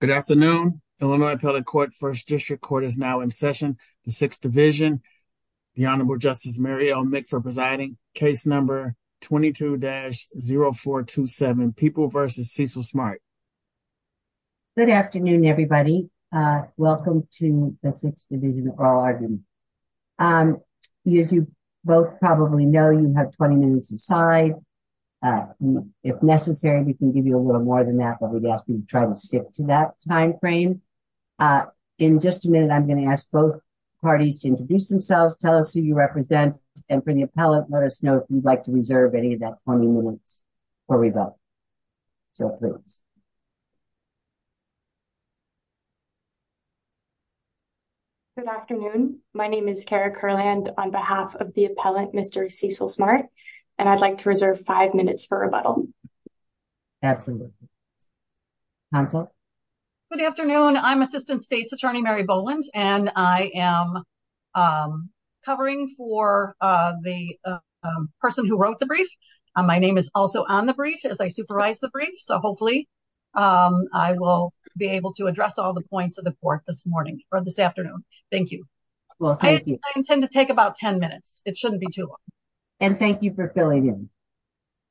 Good afternoon Illinois appellate court 1st district court is now in session. The 6th division. The honorable justice, Mary, I'll make for presiding case number 22 dash 0, 4 to 7 people versus Cecil smart. Good afternoon, everybody welcome to the 6th division. You both probably know you have 20 minutes aside. If necessary, we can give you a little more than that, but we'd ask you to try to stick to that time frame. In just a minute, I'm going to ask both parties to introduce themselves, tell us who you represent and for the appellate. Let us know if you'd like to reserve any of that 20 minutes. Or we both so please good afternoon. My name is Kara Kurland on behalf of the appellate. Mr. Cecil smart, and I'd like to reserve 5 minutes for rebuttal. Absolutely good afternoon. I'm assistant states attorney, Mary Boland and I am. Covering for the person who wrote the brief. My name is also on the brief as I supervise the brief. So hopefully. I will be able to address all the points of the court this morning or this afternoon. Thank you. Well, I intend to take about 10 minutes. It shouldn't be too long. And thank you for filling in.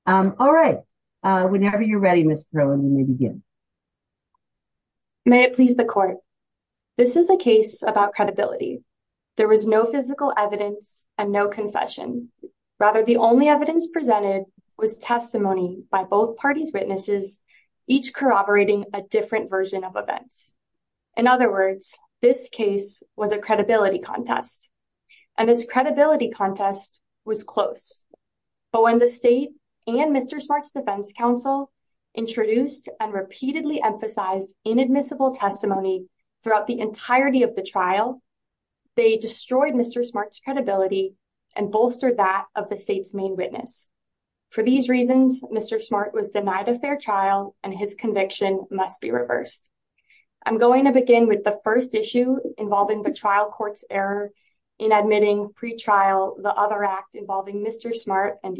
All right. Whenever you're ready, Mr. May it please the court. This is a case about credibility. There was no physical evidence and no confession. Rather, the only evidence presented was testimony by both parties. Witnesses. Each corroborating a different version of events. In other words, this case was a credibility contest. And this credibility contest was close. But when the state and Mr. smarts defense counsel. Introduced and repeatedly emphasize inadmissible testimony. Throughout the entirety of the trial, they destroyed Mr. smarts credibility. And bolster that of the state's main witness. For these reasons, Mr. smart was denied a fair trial and his conviction must be reversed. I'm going to begin with the 1st issue involving the trial courts error. In admitting pre trial, the other act involving Mr. smart and.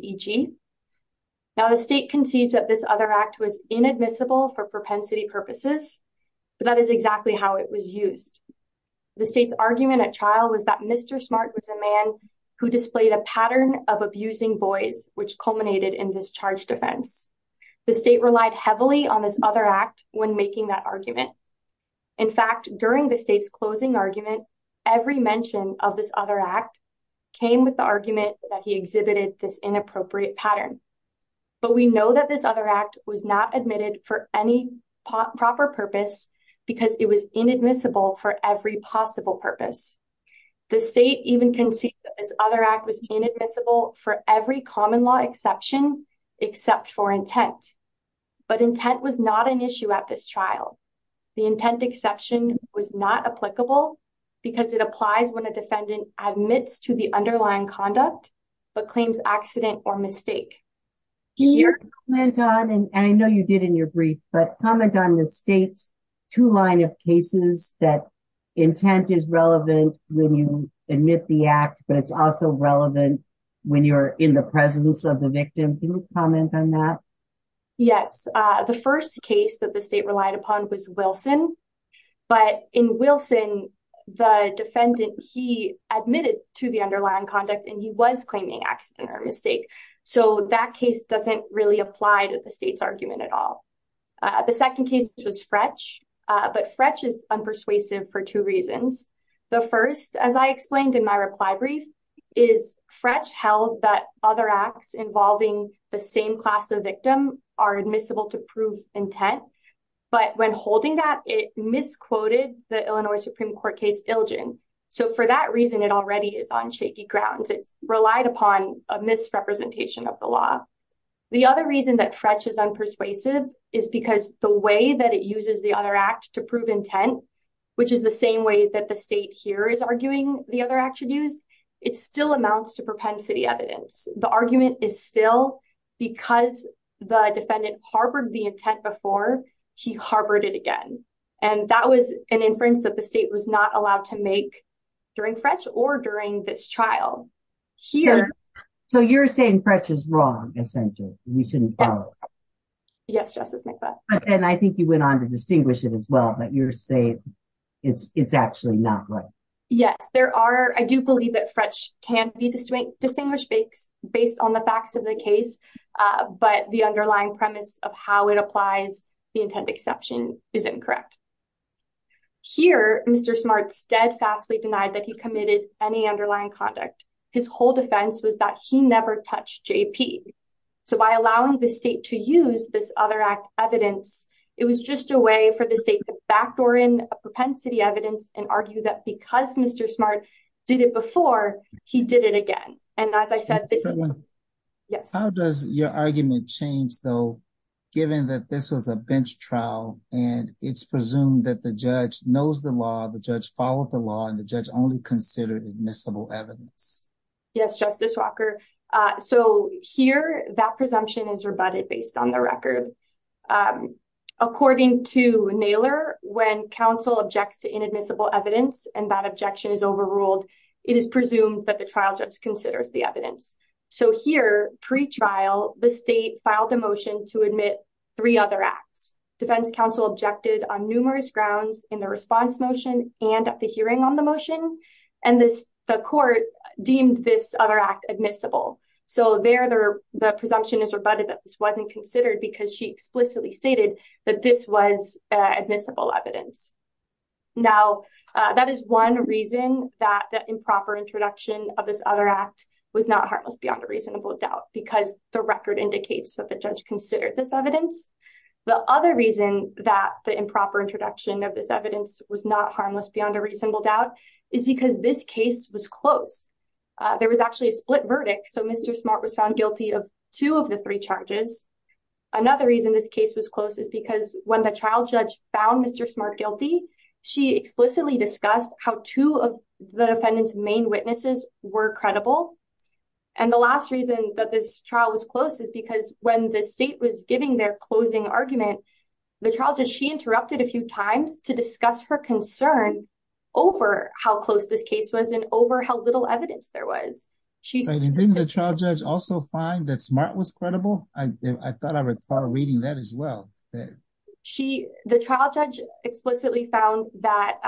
Now, the state concedes that this other act was inadmissible for propensity purposes. That is exactly how it was used. The state's argument at trial was that Mr. smart was a man. Who displayed a pattern of abusing boys, which culminated in this charge defense. The state relied heavily on this other act when making that argument. In fact, during the state's closing argument, every mention of this other act. Came with the argument that he exhibited this inappropriate pattern. But we know that this other act was not admitted for any proper purpose. Because it was inadmissible for every possible purpose. The state even can see this other act was inadmissible for every common law exception. Except for intent, but intent was not an issue at this trial. The intent exception was not applicable. Because it applies when a defendant admits to the underlying conduct. But claims accident or mistake. And I know you did in your brief, but comment on the state's 2 line of cases that. Intent is relevant when you admit the act, but it's also relevant. When you're in the presence of the victim, can you comment on that? Yes, the 1st case that the state relied upon was Wilson. But in Wilson, the defendant, he admitted to the underlying conduct. He was claiming accident or mistake. So that case doesn't really apply to the state's argument at all. The 2nd case was Fretch. But Fretch is unpersuasive for 2 reasons. The 1st, as I explained in my reply brief. Is Fretch held that other acts involving the same class of victim are admissible to prove intent. But when holding that, it misquoted the Illinois Supreme Court case Ilgen. So for that reason, it already is on shaky grounds. Relied upon a misrepresentation of the law. The other reason that Fretch is unpersuasive is because the way that it uses the other act to prove intent, which is the same way that the state here is arguing the other attributes. It still amounts to propensity evidence. The argument is still because the defendant harbored the intent before he harbored it again. And that was an inference that the state was not allowed to make. During Fretch or during this trial. Here, so you're saying Fretch is wrong, essentially. You shouldn't follow. Yes, Justice McBeth. And I think you went on to distinguish it as well. But you're saying it's actually not right. Yes, there are. I do believe that Fretch can be distinguished based on the facts of the case. But the underlying premise of how it applies, the intent exception is incorrect. Here, Mr. Smart steadfastly denied that he committed any underlying conduct. His whole defense was that he never touched J.P. So by allowing the state to use this other act evidence, it was just a way for the state to backdoor in propensity evidence and argue that because Mr. Smart did it before, he did it again. And as I said, yes. How does your argument change, though, given that this was a bench trial and it's presumed that the judge knows the law, the judge followed the law and the judge only considered admissible evidence? Yes, Justice Walker. So here, that presumption is rebutted based on the record. According to Naylor, when counsel objects to inadmissible evidence and that objection is overruled, it is presumed that the trial judge considers the evidence. So here, pre-trial, the state filed a motion to admit three other acts. Defense counsel objected on numerous grounds in the response motion and at the hearing on motion, and the court deemed this other act admissible. So there, the presumption is rebutted that this wasn't considered because she explicitly stated that this was admissible evidence. Now, that is one reason that the improper introduction of this other act was not harmless beyond a reasonable doubt, because the record indicates that the judge considered this evidence. The other reason that the improper introduction of this evidence was not harmless beyond a reasonable doubt is because this case was close. There was actually a split verdict. So Mr. Smart was found guilty of two of the three charges. Another reason this case was close is because when the trial judge found Mr. Smart guilty, she explicitly discussed how two of the defendant's main witnesses were credible. And the last reason that this trial was close is because when the state was giving their closing argument, the trial judge, she interrupted a few times to discuss her concern over how close this case was and over how little evidence there was. So didn't the trial judge also find that Smart was credible? I thought I recall reading that as well. The trial judge explicitly found that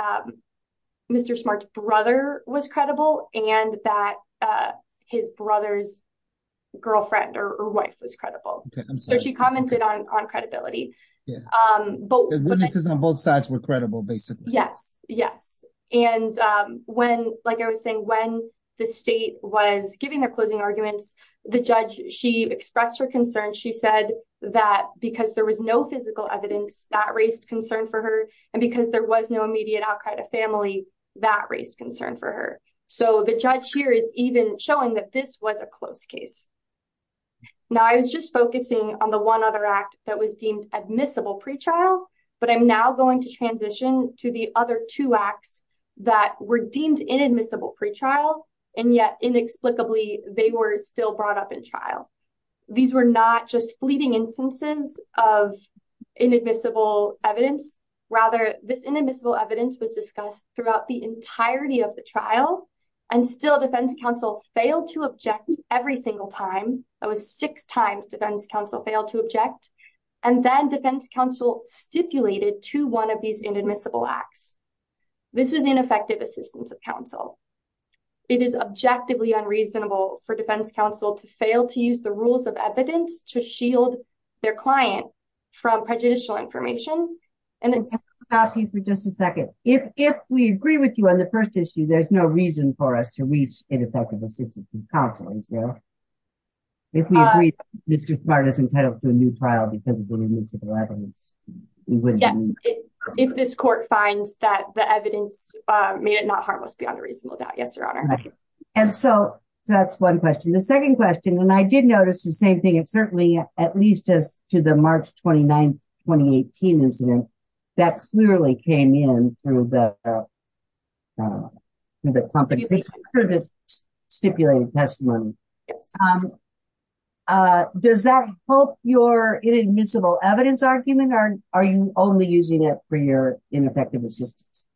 Mr. Smart's brother was credible and that his brother's girlfriend or wife was credible. So she commented on credibility. The witnesses on both sides were credible, basically. Yes, yes. And when, like I was saying, when the state was giving their closing arguments, the judge, she expressed her concern. She said that because there was no physical evidence that raised concern for her and because there was no immediate outcry to family that raised concern for her. So the judge here is even showing that this was a close case. Now, I was just focusing on the one other act that was deemed admissible pre-trial, but I'm now going to transition to the other two acts that were deemed inadmissible pre-trial, and yet inexplicably they were still brought up in trial. These were not just fleeting instances of inadmissible evidence. Rather, this inadmissible evidence was discussed throughout the entirety of the trial and still defense counsel failed to object every single time. That was six times defense counsel failed to object. And then defense counsel stipulated to one of these inadmissible acts. This was ineffective assistance of counsel. It is objectively unreasonable for defense counsel to fail to use the rules of evidence to shield their client from prejudicial information. And I'll stop you for just a second. If we agree with you on the first issue, there's no reason for us to reach ineffective assistance counsel, is there? If we agree, Mr. Smart is entitled to a new trial because of inadmissible evidence. If this court finds that the evidence made it not harmless beyond a reasonable doubt, yes, your honor. And so that's one question. The second question, and I did notice the same thing. It certainly, at least as to the March 29, 2018 incident, that clearly came in through the competition for the stipulated testimony. Does that help your inadmissible evidence argument? Or are you only using it for your ineffective assistance?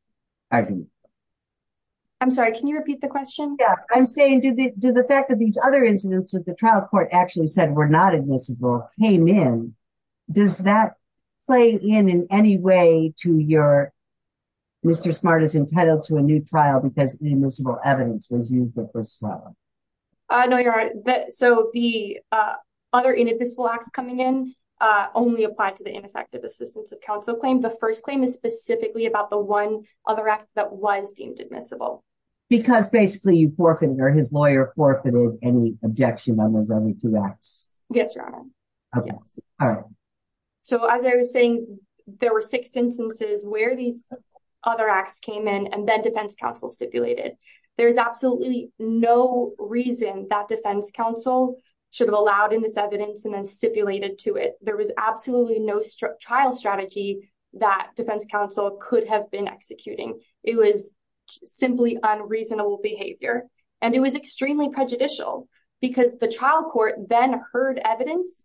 I'm sorry, can you repeat the question? Yeah, I'm saying to the fact that these other incidents that the trial court actually said were not admissible came in, does that play in in any way to your, Mr. Smart is entitled to a new trial because inadmissible evidence was used at this trial? I know you're right. So the other inadmissible acts coming in only applied to the ineffective assistance of counsel claim. The first claim is specifically about the one other act that was deemed admissible. Because basically you forfeited or his lawyer forfeited any objection on those only two acts. Yes, your honor. So as I was saying, there were six instances where these other acts came in. And then defense counsel stipulated. There's absolutely no reason that defense counsel should have allowed in this evidence and then stipulated to it. There was absolutely no trial strategy that defense counsel could have been executing. It was simply unreasonable behavior. And it was extremely prejudicial because the trial court then heard evidence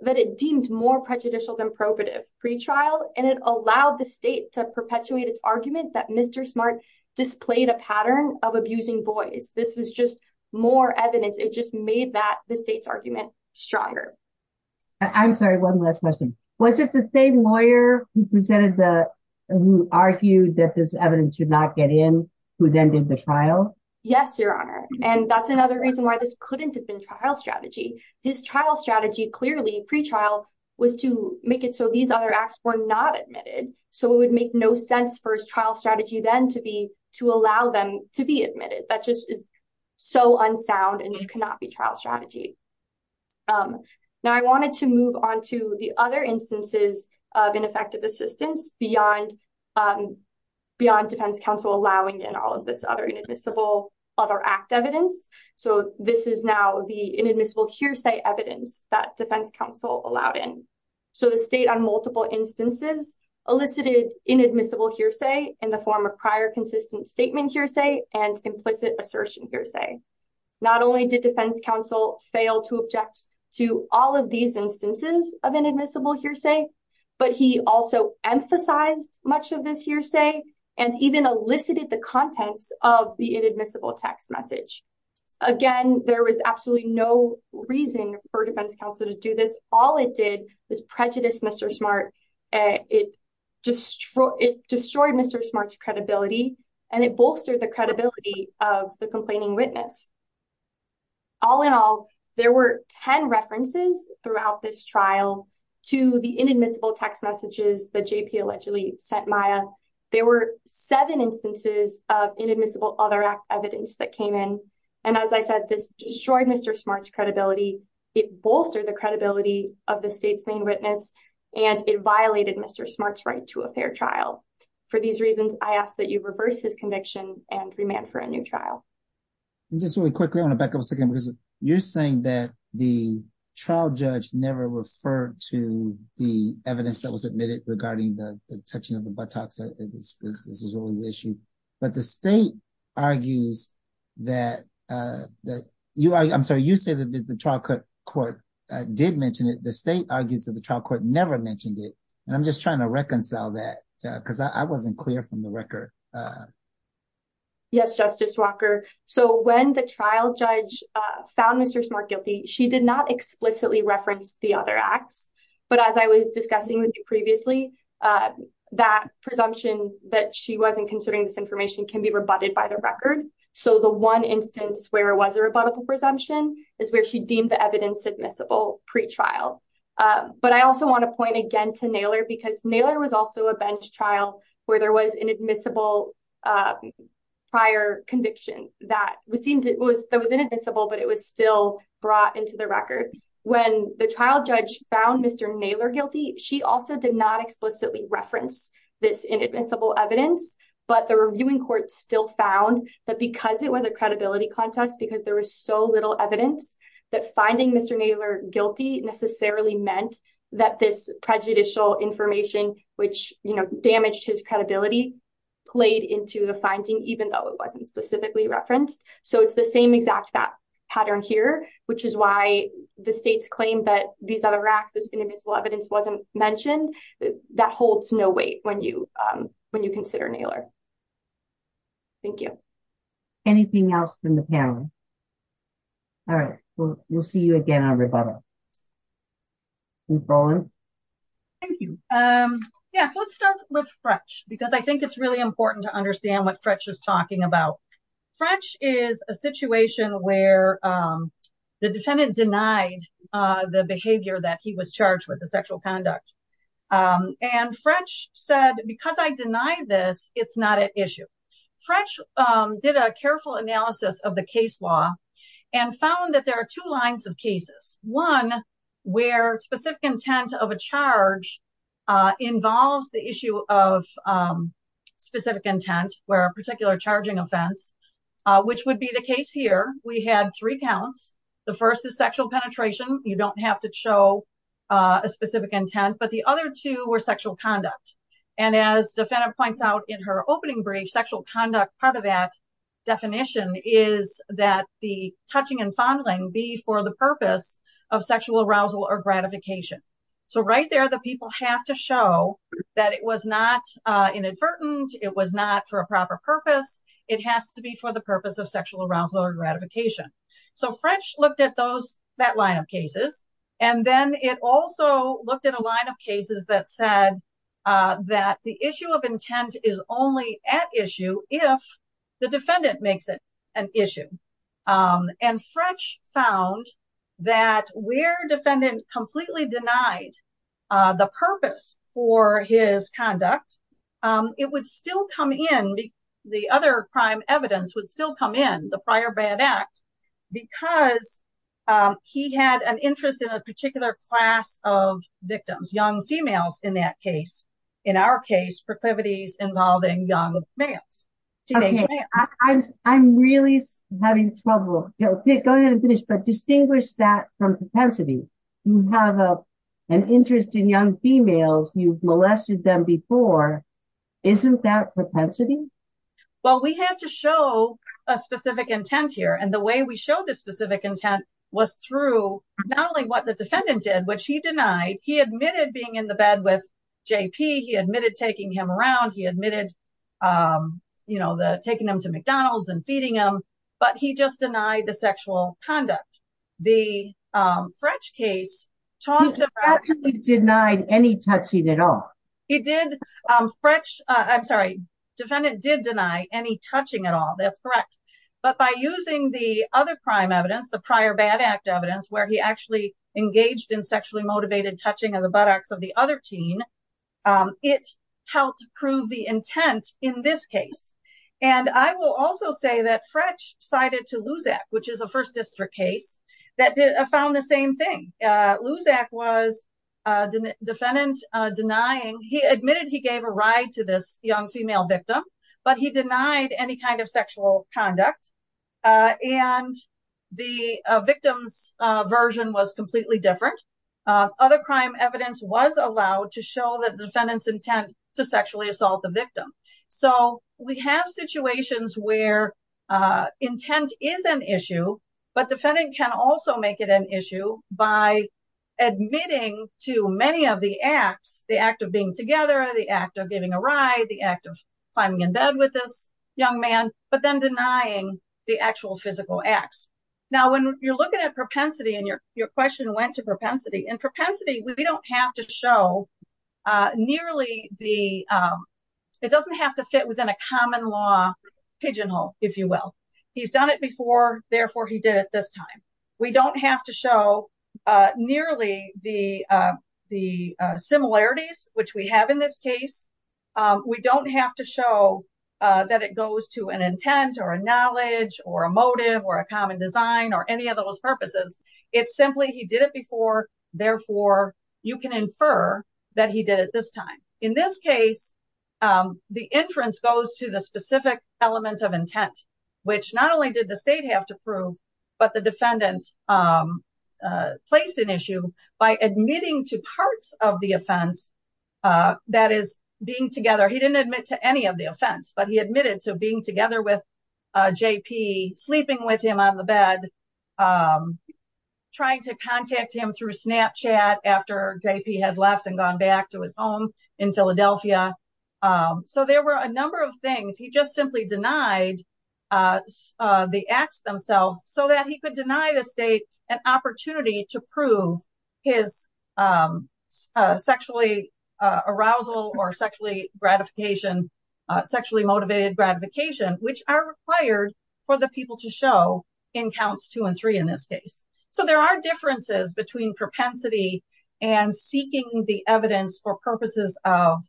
that it deemed more prejudicial than probative pretrial. And it allowed the state to perpetuate its argument that Mr. Smart displayed a pattern of abusing boys. This was just more evidence. It just made that the state's argument stronger. I'm sorry. One last question. Was it the same lawyer who presented the who argued that this evidence should not get in who then did the trial? Yes, your honor. And that's another reason why this couldn't have been trial strategy. His trial strategy clearly pretrial was to make it so these other acts were not admitted. So it would make no sense for his trial strategy then to be to allow them to be admitted. That just is so unsound and it cannot be trial strategy. Now, I wanted to move on to the other instances of ineffective assistance beyond defense counsel allowing in all of this other inadmissible other act evidence. So this is now the inadmissible hearsay evidence that defense counsel allowed in. So the state on multiple instances elicited inadmissible hearsay in the form of prior consistent statement hearsay and implicit assertion hearsay. Not only did defense counsel fail to object to all of these instances of inadmissible hearsay, but he also emphasized much of this hearsay and even elicited the contents of the inadmissible text message. Again, there was absolutely no reason for defense counsel to do this. All it did was prejudice Mr. Smart. It destroyed Mr. Smart's credibility and it bolstered the credibility of the complaining witness. All in all, there were 10 references throughout this trial to the inadmissible text messages that JP allegedly sent Maya. There were seven instances of inadmissible other act evidence that came in. And as I said, this destroyed Mr. Smart's credibility. It bolstered the credibility of the state's main witness, and it violated Mr. Smart's right to a fair trial. For these reasons, I ask that you reverse his conviction and remand for a new trial. Just really quickly, I want to back up a second because you're saying that the trial judge never referred to the evidence that was admitted regarding the touching of the buttocks. This is only the issue. But the state argues that, I'm sorry, you say that the trial court did mention it. The state argues that the trial court never mentioned it. And I'm just trying to reconcile that because I wasn't clear from the record. Yes, Justice Walker. So when the trial judge found Mr. Smart guilty, she did not explicitly reference the other acts. But as I was discussing with you previously, that presumption that she wasn't considering this information can be rebutted by the record. So the one instance where it was a rebuttable presumption is where she deemed the evidence admissible pre-trial. But I also want to point again to Naylor because Naylor was also a bench trial where there was inadmissible prior conviction that was inadmissible, but it was still brought into the record. When the trial judge found Mr. Naylor guilty, she also did not explicitly reference this inadmissible evidence. But the reviewing court still found that because it was a credibility contest, because there was so little evidence, that finding Mr. Naylor guilty necessarily meant that this prejudicial information, which damaged his credibility, played into the finding even though it wasn't specifically referenced. So it's the same exact pattern here, which is why the state's claim that these other acts, this inadmissible evidence wasn't mentioned, that holds no weight when you consider Naylor. Thank you. Anything else from the panel? All right. We'll see you again on rebuttal. Thank you. Yes, let's start with Frech because I think it's really important to understand what Frech is talking about. Frech is a situation where the defendant denied the behavior that he was charged with, the sexual conduct. And Frech said, because I deny this, it's not an issue. Frech did a careful analysis of the case law and found that there are two lines of cases. One, where specific intent of a charge involves the issue of specific intent, where a particular charging offense, which would be the case here. We had three counts. The first is sexual penetration. You don't have to show a specific intent, but the other two were sexual conduct. And as the defendant points out in her opening brief, sexual conduct, part of that definition is that the touching and fondling be for the purpose of sexual arousal or gratification. So right there, the people have to show that it was not inadvertent. It was not for a proper purpose. It has to be for the purpose of sexual arousal or gratification. So Frech looked at that line of cases. And then it also looked at a line of cases that said that the issue of intent is only at issue if the defendant makes it an issue. And Frech found that where defendant completely denied the purpose for his conduct, it would still come in. The other crime evidence would still come in, the prior bad act, because he had an interest in a particular class of victims, young females in that case. In our case, proclivities involving young males. I'm really having trouble. Go ahead and finish, but distinguish that from propensity. You have an interest in young females. You've molested them before. Isn't that propensity? Well, we have to show a specific intent here. And the way we show the specific intent was through not only what the defendant did, which he denied. He admitted being in the bed with JP. He admitted taking him around. He admitted, you know, taking him to McDonald's and feeding him. But he just denied the sexual conduct. The Frech case talked about. He actually denied any touching at all. He did Frech. I'm sorry. Defendant did deny any touching at all. That's correct. But by using the other crime evidence, the prior bad act evidence where he actually engaged in sexually motivated touching of the buttocks of the other teen, it helped prove the intent in this case. And I will also say that Frech cited to Luzak, which is a first district case that found the same thing. Luzak was a defendant denying he admitted he gave a ride to this young female victim, but he denied any kind of sexual conduct. And the victim's version was completely different. Other crime evidence was allowed to show that defendant's intent to sexually assault the victim. So we have situations where intent is an issue, but defendant can also make it an issue by admitting to many of the acts, the act of being together, the act of giving a ride, the act of climbing in bed with this young man, but then denying the actual physical acts. Now, when you're looking at propensity and your your question went to propensity and propensity, we don't have to show nearly the it doesn't have to fit within a common law pigeonhole, if you will. He's done it before. Therefore, he did it this time. We don't have to show nearly the the similarities which we have in this case. We don't have to show that it goes to an intent or a knowledge or a motive or a common design or any of those purposes. It's simply he did it before. Therefore, you can infer that he did it this time. In this case, the inference goes to the specific element of intent, which not only did the state have to prove, but the defendant placed an issue by admitting to parts of the offense that is being together. He didn't admit to any of the offense, but he admitted to being together with JP, sleeping with him on the bed, trying to contact him through Snapchat after JP had left and gone back to his home in Philadelphia. So there were a number of things. He just simply denied the acts themselves so that he could deny the state an opportunity to prove his sexually arousal or sexually gratification, sexually motivated gratification, which are required for the people to show in counts two and three in this case. So there are differences between propensity and seeking the evidence for purposes of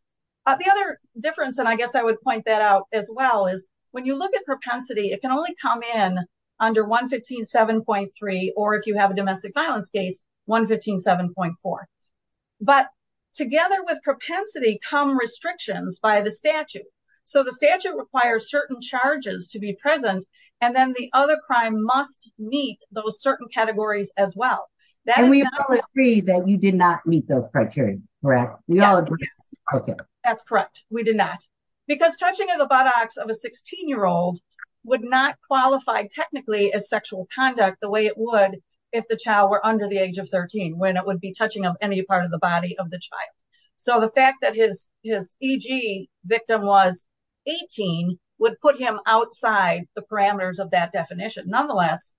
the other difference. And I guess I would point that out as well is when you look at propensity, it can only come in under one fifteen seven point three or if you have a domestic violence case, one fifteen seven point four. But together with propensity come restrictions by the statute. So the statute requires certain charges to be present. And then the other crime must meet those certain categories as well. That we agree that we did not meet those criteria. Correct. OK, that's correct. We did not because touching the buttocks of a 16 year old would not qualify technically as sexual conduct the way it would if the child were under the age of 13, when it would be touching of any part of the body of the child. So the fact that his his victim was 18 would put him outside the parameters of that definition. Nonetheless,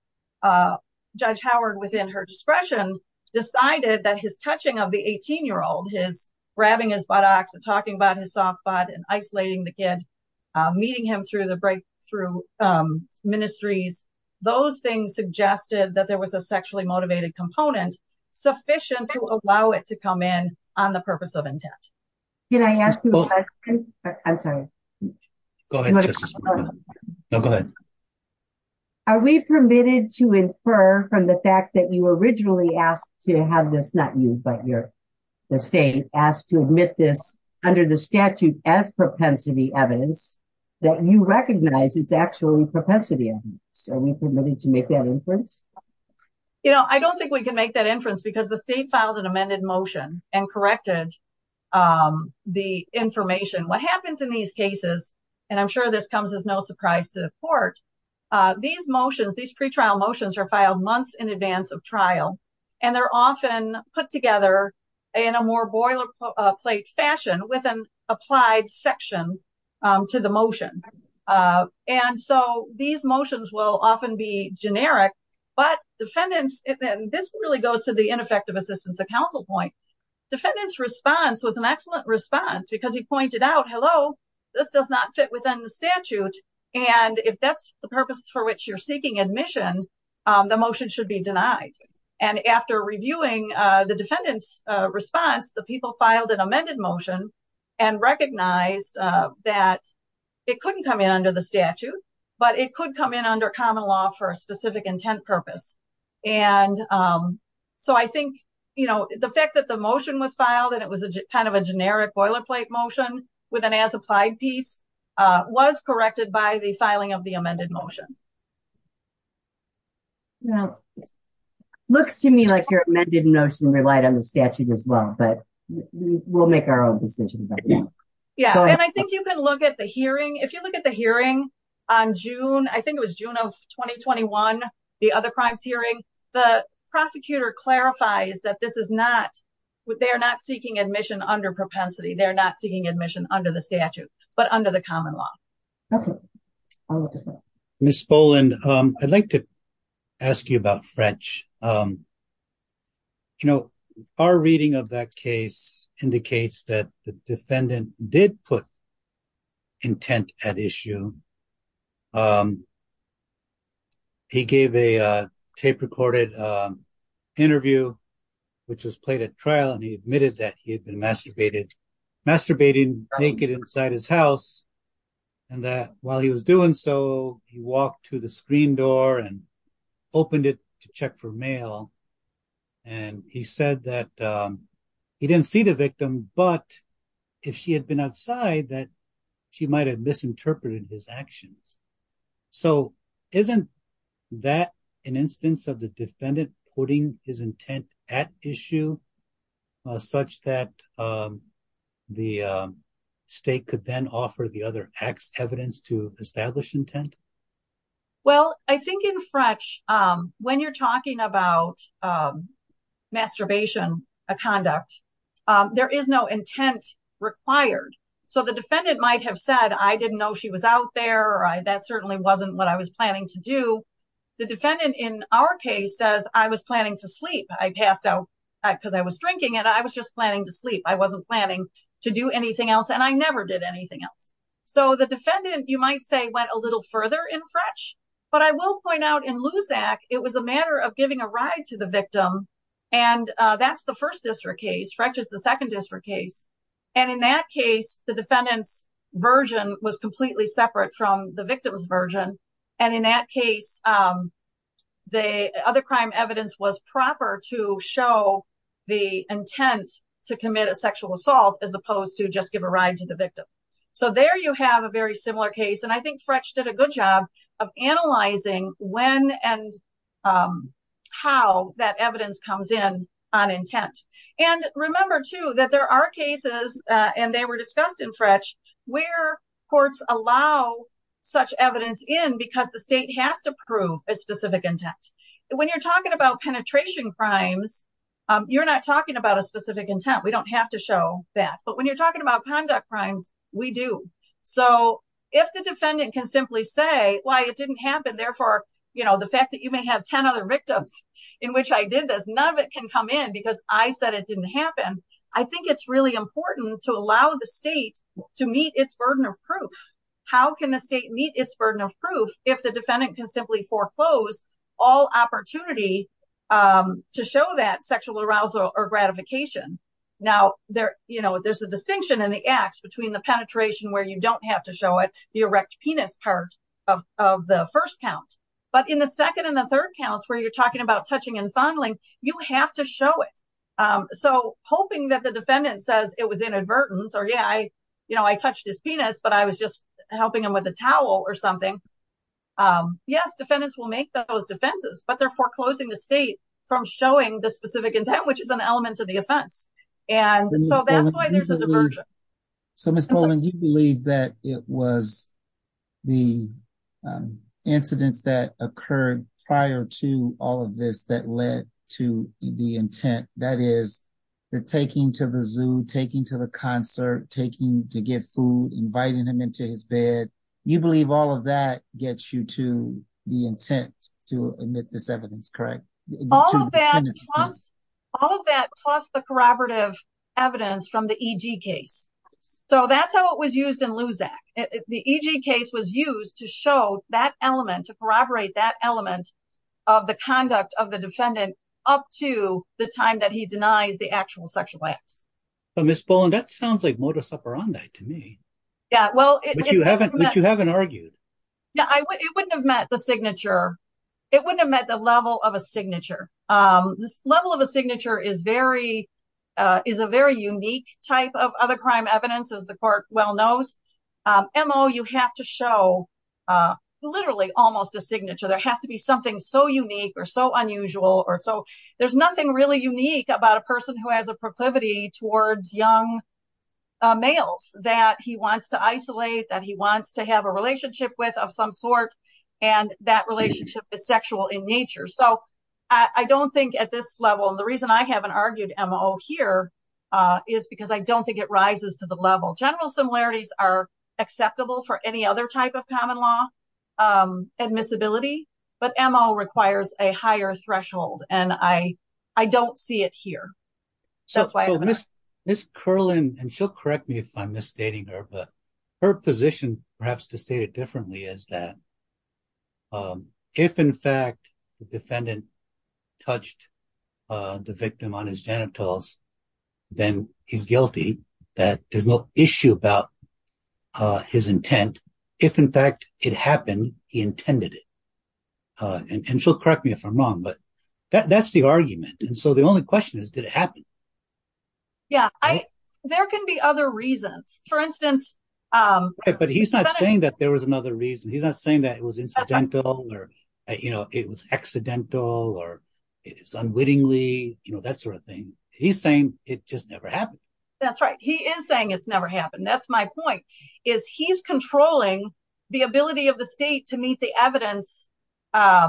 Judge Howard, within her discretion, decided that his touching of the 18 year old, his grabbing his buttocks and talking about his soft spot and isolating the kid, meeting him through the breakthrough ministries. Those things suggested that there was a sexually motivated component sufficient to allow it to come in on the purpose of intent. Can I ask you a question? I'm sorry. Go ahead. No, go ahead. Are we permitted to infer from the fact that you were originally asked to have this? Not you, but you're the state asked to admit this under the statute as propensity evidence that you recognize it's actually propensity evidence. Are we permitted to make that inference? You know, I don't think we can make that inference because the state filed an amended motion and corrected the information. What happens in these cases, and I'm sure this comes as no surprise to the court, these motions, these pretrial motions are filed months in advance of trial. And they're often put together in a more boilerplate fashion with an applied section to the motion. And so these motions will often be generic, but defendants, and this really goes to the ineffective assistance of counsel point. Defendant's response was an excellent response because he pointed out, hello, this does not fit within the statute. And if that's the purpose for which you're seeking admission, the motion should be denied. And after reviewing the defendant's response, the people filed an amended motion and recognized that it couldn't come in under the statute, but it could come in under common law for a specific intent purpose. And so I think, you know, the fact that the motion was filed and it was a kind of a generic boilerplate motion with an as applied piece was corrected by the filing of the amended motion. Now, looks to me like your amended motion relied on the statute as well, but we'll make our own decisions. Yeah, and I think you can look at the hearing. If you look at the hearing on June, I think it was June of 2021, the other crimes hearing, the prosecutor clarifies that this is not what they are not seeking admission under propensity. They're not seeking admission under the statute, but under the common law. OK. Miss Boland, I'd like to ask you about French. You know, our reading of that case indicates that the defendant did put intent at issue. He gave a tape recorded interview, which was played at trial, and he admitted that he had masturbated, masturbated naked inside his house and that while he was doing so, he walked to the screen door and opened it to check for mail. And he said that he didn't see the victim, but if she had been outside that she might have misinterpreted his actions. So isn't that an instance of the defendant putting his intent at issue such that the state could then offer the other acts evidence to establish intent? Well, I think in French, when you're talking about masturbation, a conduct, there is no intent required. So the defendant might have said, I didn't know she was out there or that certainly wasn't what I was planning to do. The defendant in our case says I was planning to sleep. I passed out because I was drinking and I was just planning to sleep. I wasn't planning to do anything else. And I never did anything else. So the defendant, you might say, went a little further in French, but I will point out in Luzak, it was a matter of giving a ride to the victim. And that's the first district case. French is the second district case. And in that case, the defendant's version was completely separate from the victim's version. And in that case, the other crime evidence was proper to show the intent to commit a sexual assault as opposed to just give a ride to the victim. So there you have a very similar case. And I think French did a good job of analyzing when and how that evidence comes in on intent. And remember, too, that there are cases and they were discussed in French where courts allow such evidence in because the state has to prove a specific intent. When you're talking about penetration crimes, you're not talking about a specific intent. We don't have to show that. But when you're talking about conduct crimes, we do. So if the defendant can simply say, why it didn't happen, therefore, the fact that you can come in because I said it didn't happen, I think it's really important to allow the state to meet its burden of proof. How can the state meet its burden of proof if the defendant can simply foreclose all opportunity to show that sexual arousal or gratification? Now, there's a distinction in the acts between the penetration where you don't have to show it, the erect penis part of the first count. But in the second and the third counts where you're talking about touching and fondling, you have to show it. So hoping that the defendant says it was inadvertent or, yeah, I touched his penis, but I was just helping him with a towel or something. Yes, defendants will make those defenses, but they're foreclosing the state from showing the specific intent, which is an element of the offense. And so that's why there's a diversion. So, Ms. Bowling, you believe that it was the incidents that occurred prior to all of this that led to the intent, that is, the taking to the zoo, taking to the concert, taking to get food, inviting him into his bed. You believe all of that gets you to the intent to omit this evidence, correct? All of that, plus the corroborative evidence from the EG case. So that's how it was used in Luzak. The EG case was used to show that element, to corroborate that element of the conduct of the defendant up to the time that he denies the actual sexual acts. But Ms. Bowling, that sounds like modus operandi to me. Yeah, well. But you haven't argued. No, it wouldn't have met the signature. It wouldn't have met the level of a signature. This level of a signature is a very unique type of other crime evidence, as the court well knows. MO, you have to show literally almost a signature. There has to be something so unique or so unusual or so. There's nothing really unique about a person who has a proclivity towards young males that he wants to isolate, that he wants to have a relationship with of some sort. And that relationship is sexual in nature. So I don't think at this level, and the reason I haven't argued MO here is because I don't think it rises to the level. General similarities are acceptable for any other type of common law admissibility, but MO requires a higher threshold. And I don't see it here. So Ms. Kerlin, and she'll correct me if I'm misstating her, but her position, perhaps to state it differently, is that if, in fact, the defendant touched the victim on his genitals, then he's guilty, that there's no issue about his intent. If, in fact, it happened, he intended it. And she'll correct me if I'm wrong, but that's the argument. And so the only question is, did it happen? Yeah, there can be other reasons. For instance. But he's not saying that there was another reason. He's not saying that it was incidental or it was accidental or it is unwittingly, that sort of thing. He's saying it just never happened. That's right. He is saying it's never happened. That's my point, is he's controlling the ability of the state to meet the evidence, to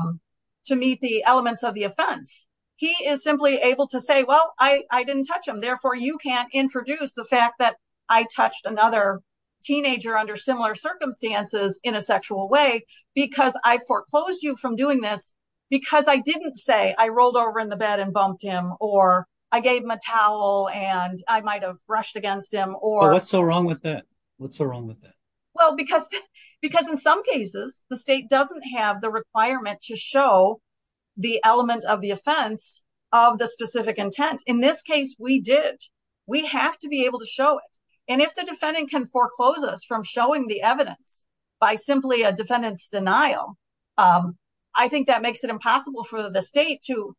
meet the elements of the offense. He is simply able to say, well, I didn't touch him. Therefore, you can't introduce the fact that I touched another teenager under similar circumstances in a sexual way because I foreclosed you from doing this because I didn't say I rolled over in the bed and bumped him or I gave him a towel and I might have brushed against him or. But what's so wrong with that? What's so wrong with that? Well, because in some cases, the state doesn't have the requirement to show the element of the offense of the specific intent. In this case, we did. We have to be able to show it. And if the defendant can foreclose us from showing the evidence by simply a defendant's denial, I think that makes it impossible for the state to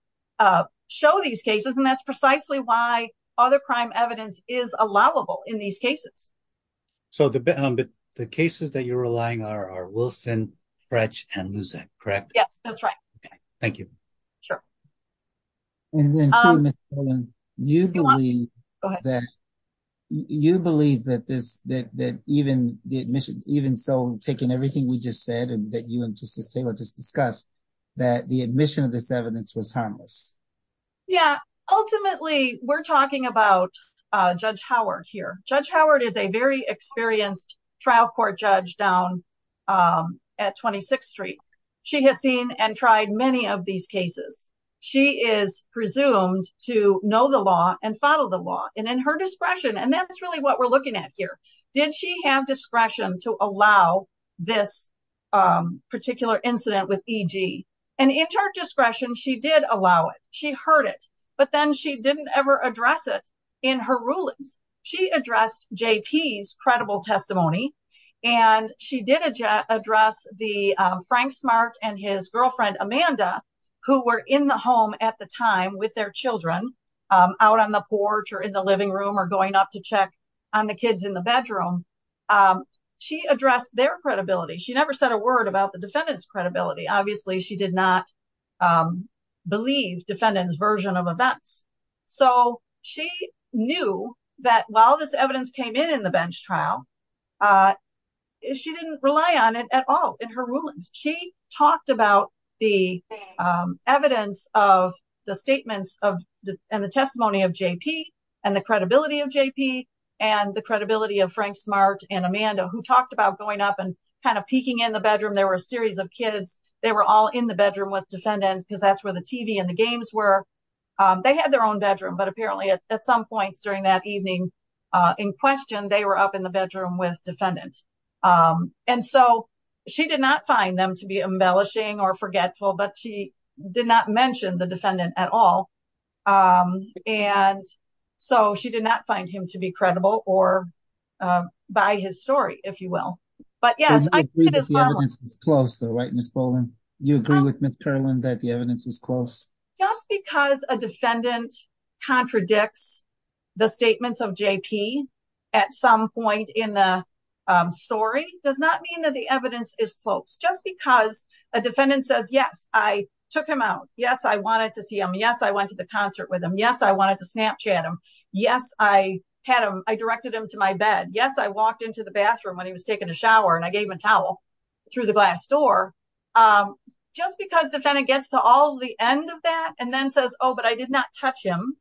show these cases. And that's precisely why other crime evidence is allowable in these cases. So the cases that you're relying on are Wilson, French and Luzet, correct? Yes, that's right. OK, thank you. Sure. And then you believe that you believe that this that even the admission, even so, taking everything we just said and that you and Justice Taylor just discussed that the admission of this evidence was harmless. Yeah, ultimately, we're talking about Judge Howard here. Judge Howard is a very experienced trial court judge down at 26th Street. She has seen and tried many of these cases. She is presumed to know the law and follow the law and in her discretion. And that's really what we're looking at here. Did she have discretion to allow this particular incident with E.G.? And in her discretion, she did allow it. She heard it. But then she didn't ever address it in her rulings. She addressed J.P.'s credible testimony and she did address the Frank Smart and his in the home at the time with their children out on the porch or in the living room or going up to check on the kids in the bedroom. She addressed their credibility. She never said a word about the defendant's credibility. Obviously, she did not believe defendant's version of events. So she knew that while this evidence came in in the bench trial, she didn't rely on it at all in her rulings. She talked about the evidence of the statements and the testimony of J.P. and the credibility of J.P. and the credibility of Frank Smart and Amanda, who talked about going up and kind of peeking in the bedroom. There were a series of kids. They were all in the bedroom with defendant because that's where the TV and the games were. They had their own bedroom, but apparently at some points during that evening in question, they were up in the bedroom with defendant. Um, and so she did not find them to be embellishing or forgetful, but she did not mention the defendant at all. Um, and so she did not find him to be credible or, um, by his story, if you will. But yes, I think it is close, though, right? Miss Bowman. You agree with Miss Carlin that the evidence is close just because a defendant contradicts the statements of J.P. at some point in the story does not mean that the evidence is close. Just because a defendant says, yes, I took him out. Yes. I wanted to see him. Yes. I went to the concert with him. Yes. I wanted to Snapchat him. Yes. I had him. I directed him to my bed. Yes. I walked into the bathroom when he was taking a shower and I gave him a towel through the glass door. Um, just because defendant gets to all the end of that and then says, oh, but I did not touch him.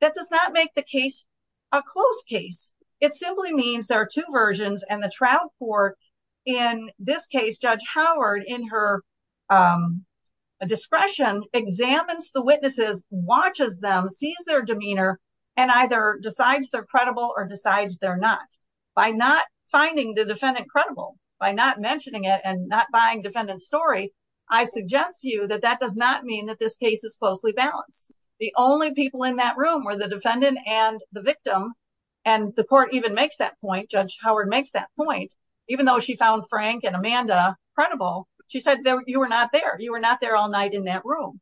That does not make the case a close case. It simply means there are two versions and the trial court in this case, Judge Howard in her, um, discretion examines the witnesses, watches them, sees their demeanor and either decides they're credible or decides they're not by not finding the defendant credible by not mentioning it and not buying defendant story. I suggest to you that that does not mean that this case is closely balanced. The only people in that room were the defendant and the victim. And the court even makes that point. Judge Howard makes that point. Even though she found Frank and Amanda credible, she said that you were not there. You were not there all night in that room.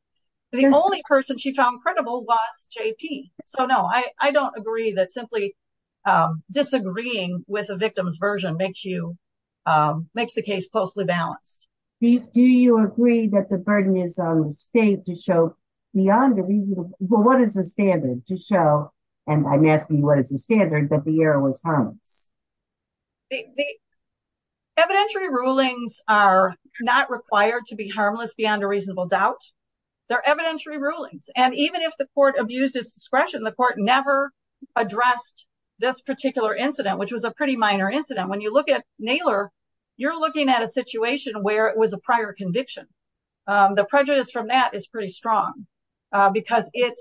The only person she found credible was JP. So no, I, I don't agree that simply, um, disagreeing with a victim's version makes you, um, makes the case closely balanced. Do you agree that the burden is on the state to show beyond the reason? Well, what is the standard to show? And I'm asking you, what is the standard that the error was harmless? Evidentiary rulings are not required to be harmless beyond a reasonable doubt. They're evidentiary rulings. And even if the court abused his discretion, the court never addressed this particular incident, which was a pretty minor incident. When you look at Naylor, you're looking at a situation where it was a prior conviction. Um, the prejudice from that is pretty strong, uh, because it,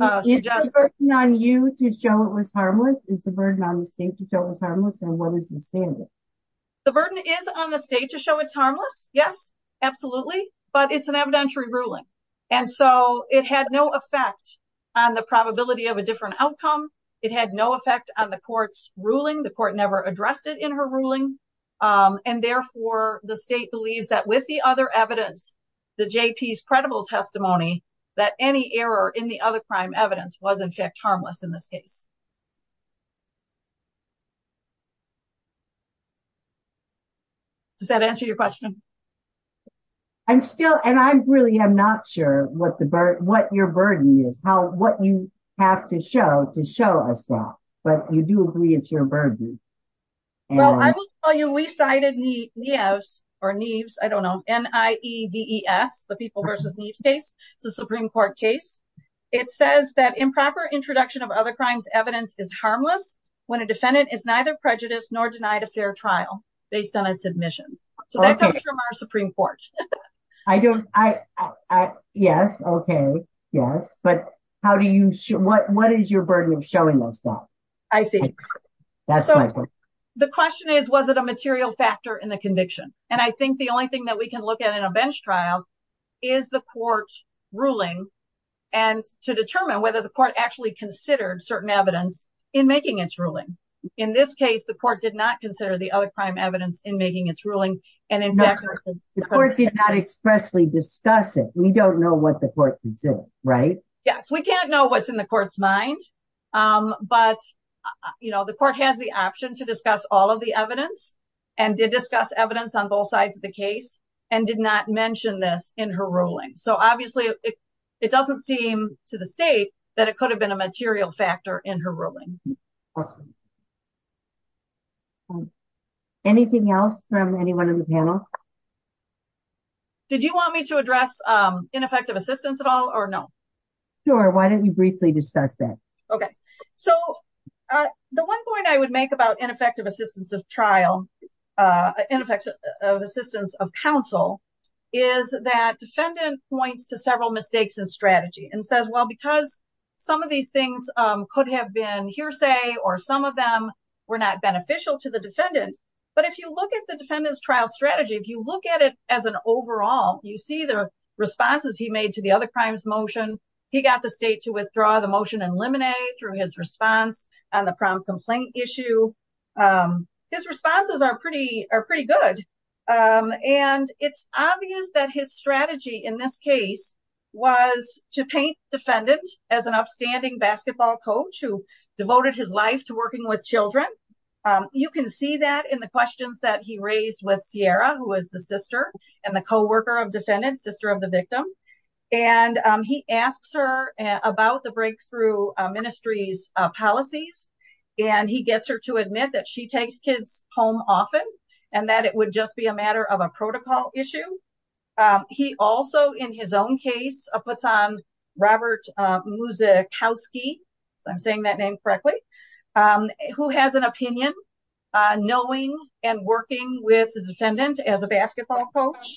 uh, Is the burden on you to show it was harmless? Is the burden on the state to show it was harmless? And what is the standard? The burden is on the state to show it's harmless. Yes, absolutely. But it's an evidentiary ruling. And so it had no effect on the probability of a different outcome. It had no effect on the court's ruling. The court never addressed it in her ruling. And therefore, the state believes that with the other evidence, the J.P.'s credible testimony, that any error in the other crime evidence was in fact harmless in this case. Does that answer your question? I'm still, and I really am not sure what the burden, what your burden is, how, what you have to show to show us that. But you do agree it's your burden. Well, I will tell you, we cited Neves, or Neves, I don't know, N-I-E-V-E-S, the People v. Neves case. It's a Supreme Court case. It says that improper introduction of other crimes evidence is harmless when a defendant is neither prejudiced nor denied a fair trial based on its admission. So that comes from our Supreme Court. I don't, I, I, yes, okay, yes. But how do you, what, what is your burden of showing us that? I see. The question is, was it a material factor in the conviction? And I think the only thing that we can look at in a bench trial is the court ruling and to determine whether the court actually considered certain evidence in making its ruling. In this case, the court did not consider the other crime evidence in making its ruling. And in fact, the court did not expressly discuss it. We don't know what the court can say, right? Yes, we can't know what's in the court's mind. But, you know, the court has the option to discuss all of the evidence and did discuss evidence on both sides of the case and did not mention this in her ruling. So obviously it doesn't seem to the state that it could have been a material factor in her ruling. Anything else from anyone on the panel? Did you want me to address ineffective assistance at all or no? Sure. Why don't we briefly discuss that? So the one point I would make about ineffective assistance of trial, ineffective assistance of counsel, is that defendant points to several mistakes in strategy and says, well, because some of these things could have been hearsay or some of them were not beneficial to the defendant. But if you look at the defendant's trial strategy, if you look at it as an overall, you see the responses he made to the other crimes motion. He got the state to withdraw the motion and limine through his response on the prompt complaint issue. His responses are pretty good. And it's obvious that his strategy in this case was to paint defendant as an upstanding basketball coach who devoted his life to working with children. You can see that in the questions that he raised with Sierra, who is the sister and the coworker of defendant, sister of the victim. And he asks her about the breakthrough ministries policies, and he gets her to admit that she takes kids home often and that it would just be a matter of a protocol issue. He also, in his own case, puts on Robert Muzikowski, if I'm saying that name correctly, who has an opinion, knowing and working with the defendant as a basketball coach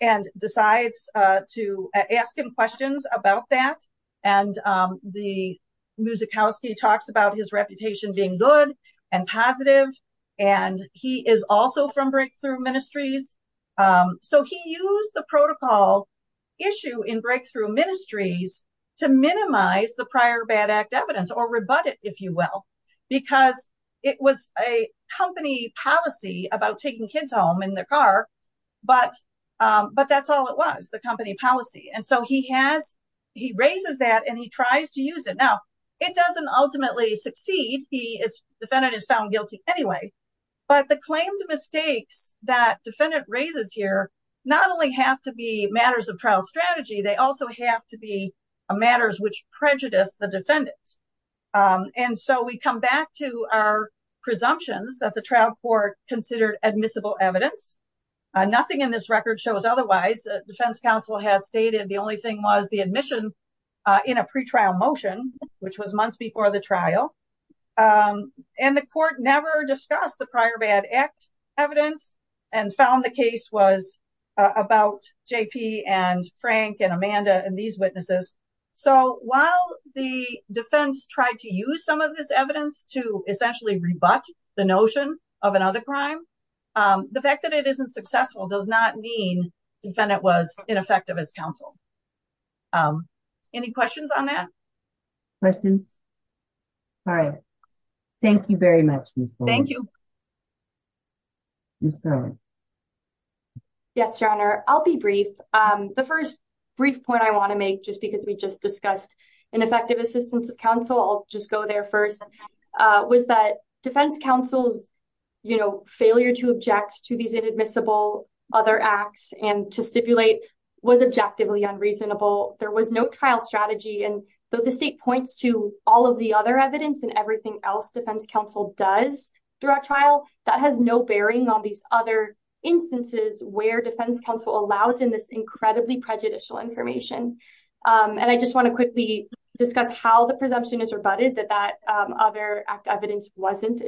and decides to ask him questions about that. And the Muzikowski talks about his reputation being good and positive. And he is also from Breakthrough Ministries. So he used the protocol issue in Breakthrough Ministries to minimize the prior bad act evidence or rebut it, if you will, because it was a company policy about taking kids home in their car. But that's all it was, the company policy. And so he raises that and he tries to use it. Now, it doesn't ultimately succeed. He is defendant is found guilty anyway. But the claimed mistakes that defendant raises here not only have to be matters of trial strategy, they also have to be matters which prejudice the defendant. And so we come back to our presumptions that the trial court considered admissible evidence. Nothing in this record shows otherwise. Defense counsel has stated the only thing was the admission in a pretrial motion, which was months before the trial. And the court never discussed the prior bad act evidence and found the case was about JP and Frank and Amanda and these witnesses. So while the defense tried to use some of this evidence to essentially rebut the notion of another crime, the fact that it isn't successful does not mean defendant was ineffective as counsel. Any questions on that? Questions? All right. Thank you very much. Thank you. Yes, your honor. I'll be brief. The first brief point I want to make, just because we just discussed ineffective assistance of counsel, I'll just go there first, was that defense counsel's failure to object to these inadmissible other acts and to stipulate was objectively unreasonable. There was no trial strategy. And though the state points to all of the other evidence and everything else defense counsel does throughout trial, that has no bearing on these other instances where defense counsel allows in this incredibly prejudicial information. And I just want to quickly discuss how the presumption is rebutted that that other act evidence wasn't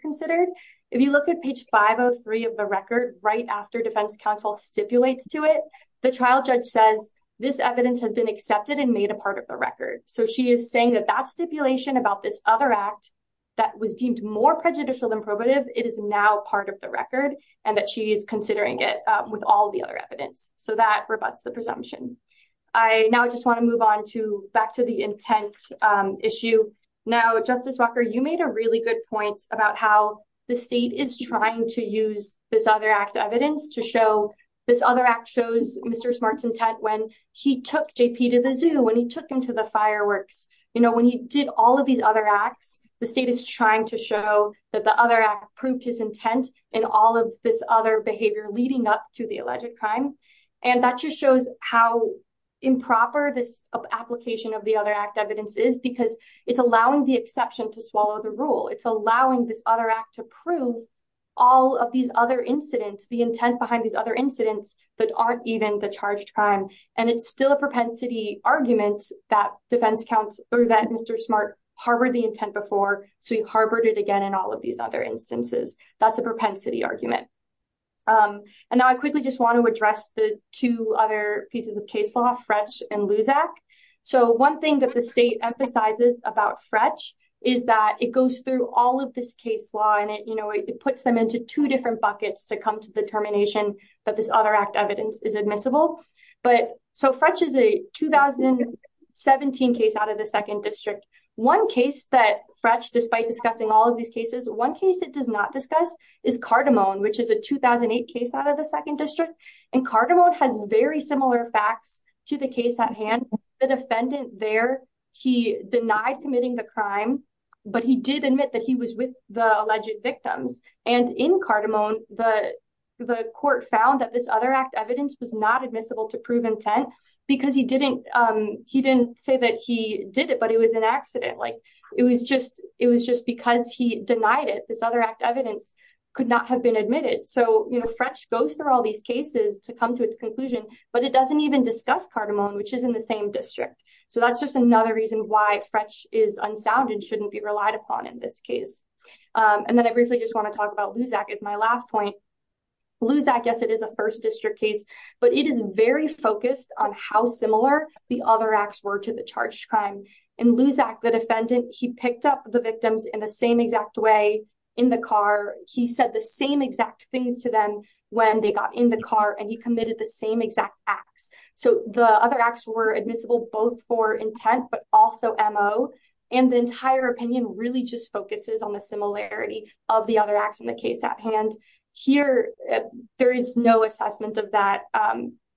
considered. If you look at page 503 of the record, right after defense counsel stipulates to it, the trial judge says this evidence has been accepted and made a part of the record. So she is saying that that stipulation about this other act that was deemed more prejudicial than probative, it is now part of the record and that she is considering it with all the other evidence. So that rebuts the presumption. I now just want to move on to back to the intent issue. Now, Justice Walker, you made a really good point about how the state is trying to use this other act evidence to show this other act shows Mr. Smart's intent when he took JP to the zoo, when he took him to the fireworks. You know, when he did all of these other acts, the state is trying to show that the other act proved his intent in all of this other behavior leading up to the alleged crime. And that just shows how improper this application of the other act evidence is because it's allowing the exception to swallow the rule. It's allowing this other act to prove all of these other incidents, the intent behind these other incidents that aren't even the charged crime. And it's still a propensity argument that defense counsel or that Mr. Smart harbored the intent before. So he harbored it again in all of these other instances. That's a propensity argument. And now I quickly just want to address the two other pieces of case law, Frech and Luzak. So one thing that the state emphasizes about Frech is that it goes through all of this case law and it, you know, it puts them into two different buckets to come to the termination that this other act evidence is admissible. But so Frech is a 2017 case out of the second district. One case that Frech, despite discussing all of these cases, one case it does not discuss is Cardamone, which is a 2008 case out of the second district. And Cardamone has very similar facts to the case at hand. The defendant there, he denied committing the crime, but he did admit that he was with the alleged victims. And in Cardamone, the court found that this other act evidence was not admissible to prove intent because he didn't say that he did it, but it was an accident. It was just because he denied it, this other act evidence could not have been admitted. So, you know, Frech goes through all these cases to come to its conclusion, but it doesn't even discuss Cardamone, which is in the same district. So that's just another reason why Frech is unsound and shouldn't be relied upon in this case. And then I briefly just want to talk about Luzak as my last point. Luzak, yes, it is a first district case, but it is very focused on how similar the other acts were to the charged crime. In Luzak, the defendant, he picked up the victims in the same exact way in the car. He said the same exact things to them when they got in the car and he committed the same exact acts. So the other acts were admissible both for intent, but also M.O. And the entire opinion really just focuses on the similarity of the other acts in the case at hand. Here, there is no assessment of that.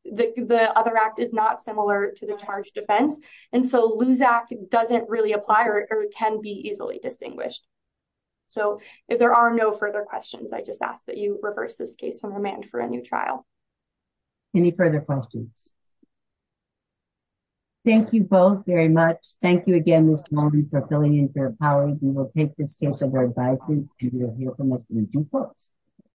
The other act is not similar to the charged offense. And so Luzak doesn't really apply or it can be easily distinguished. So if there are no further questions, I just ask that you reverse this case and remand for a new trial. Any further questions? Thank you both very much. Thank you again, Mr. Holman, for filling in for your powers. We will take this case of our advisors and we will hear from Mr. McClain first.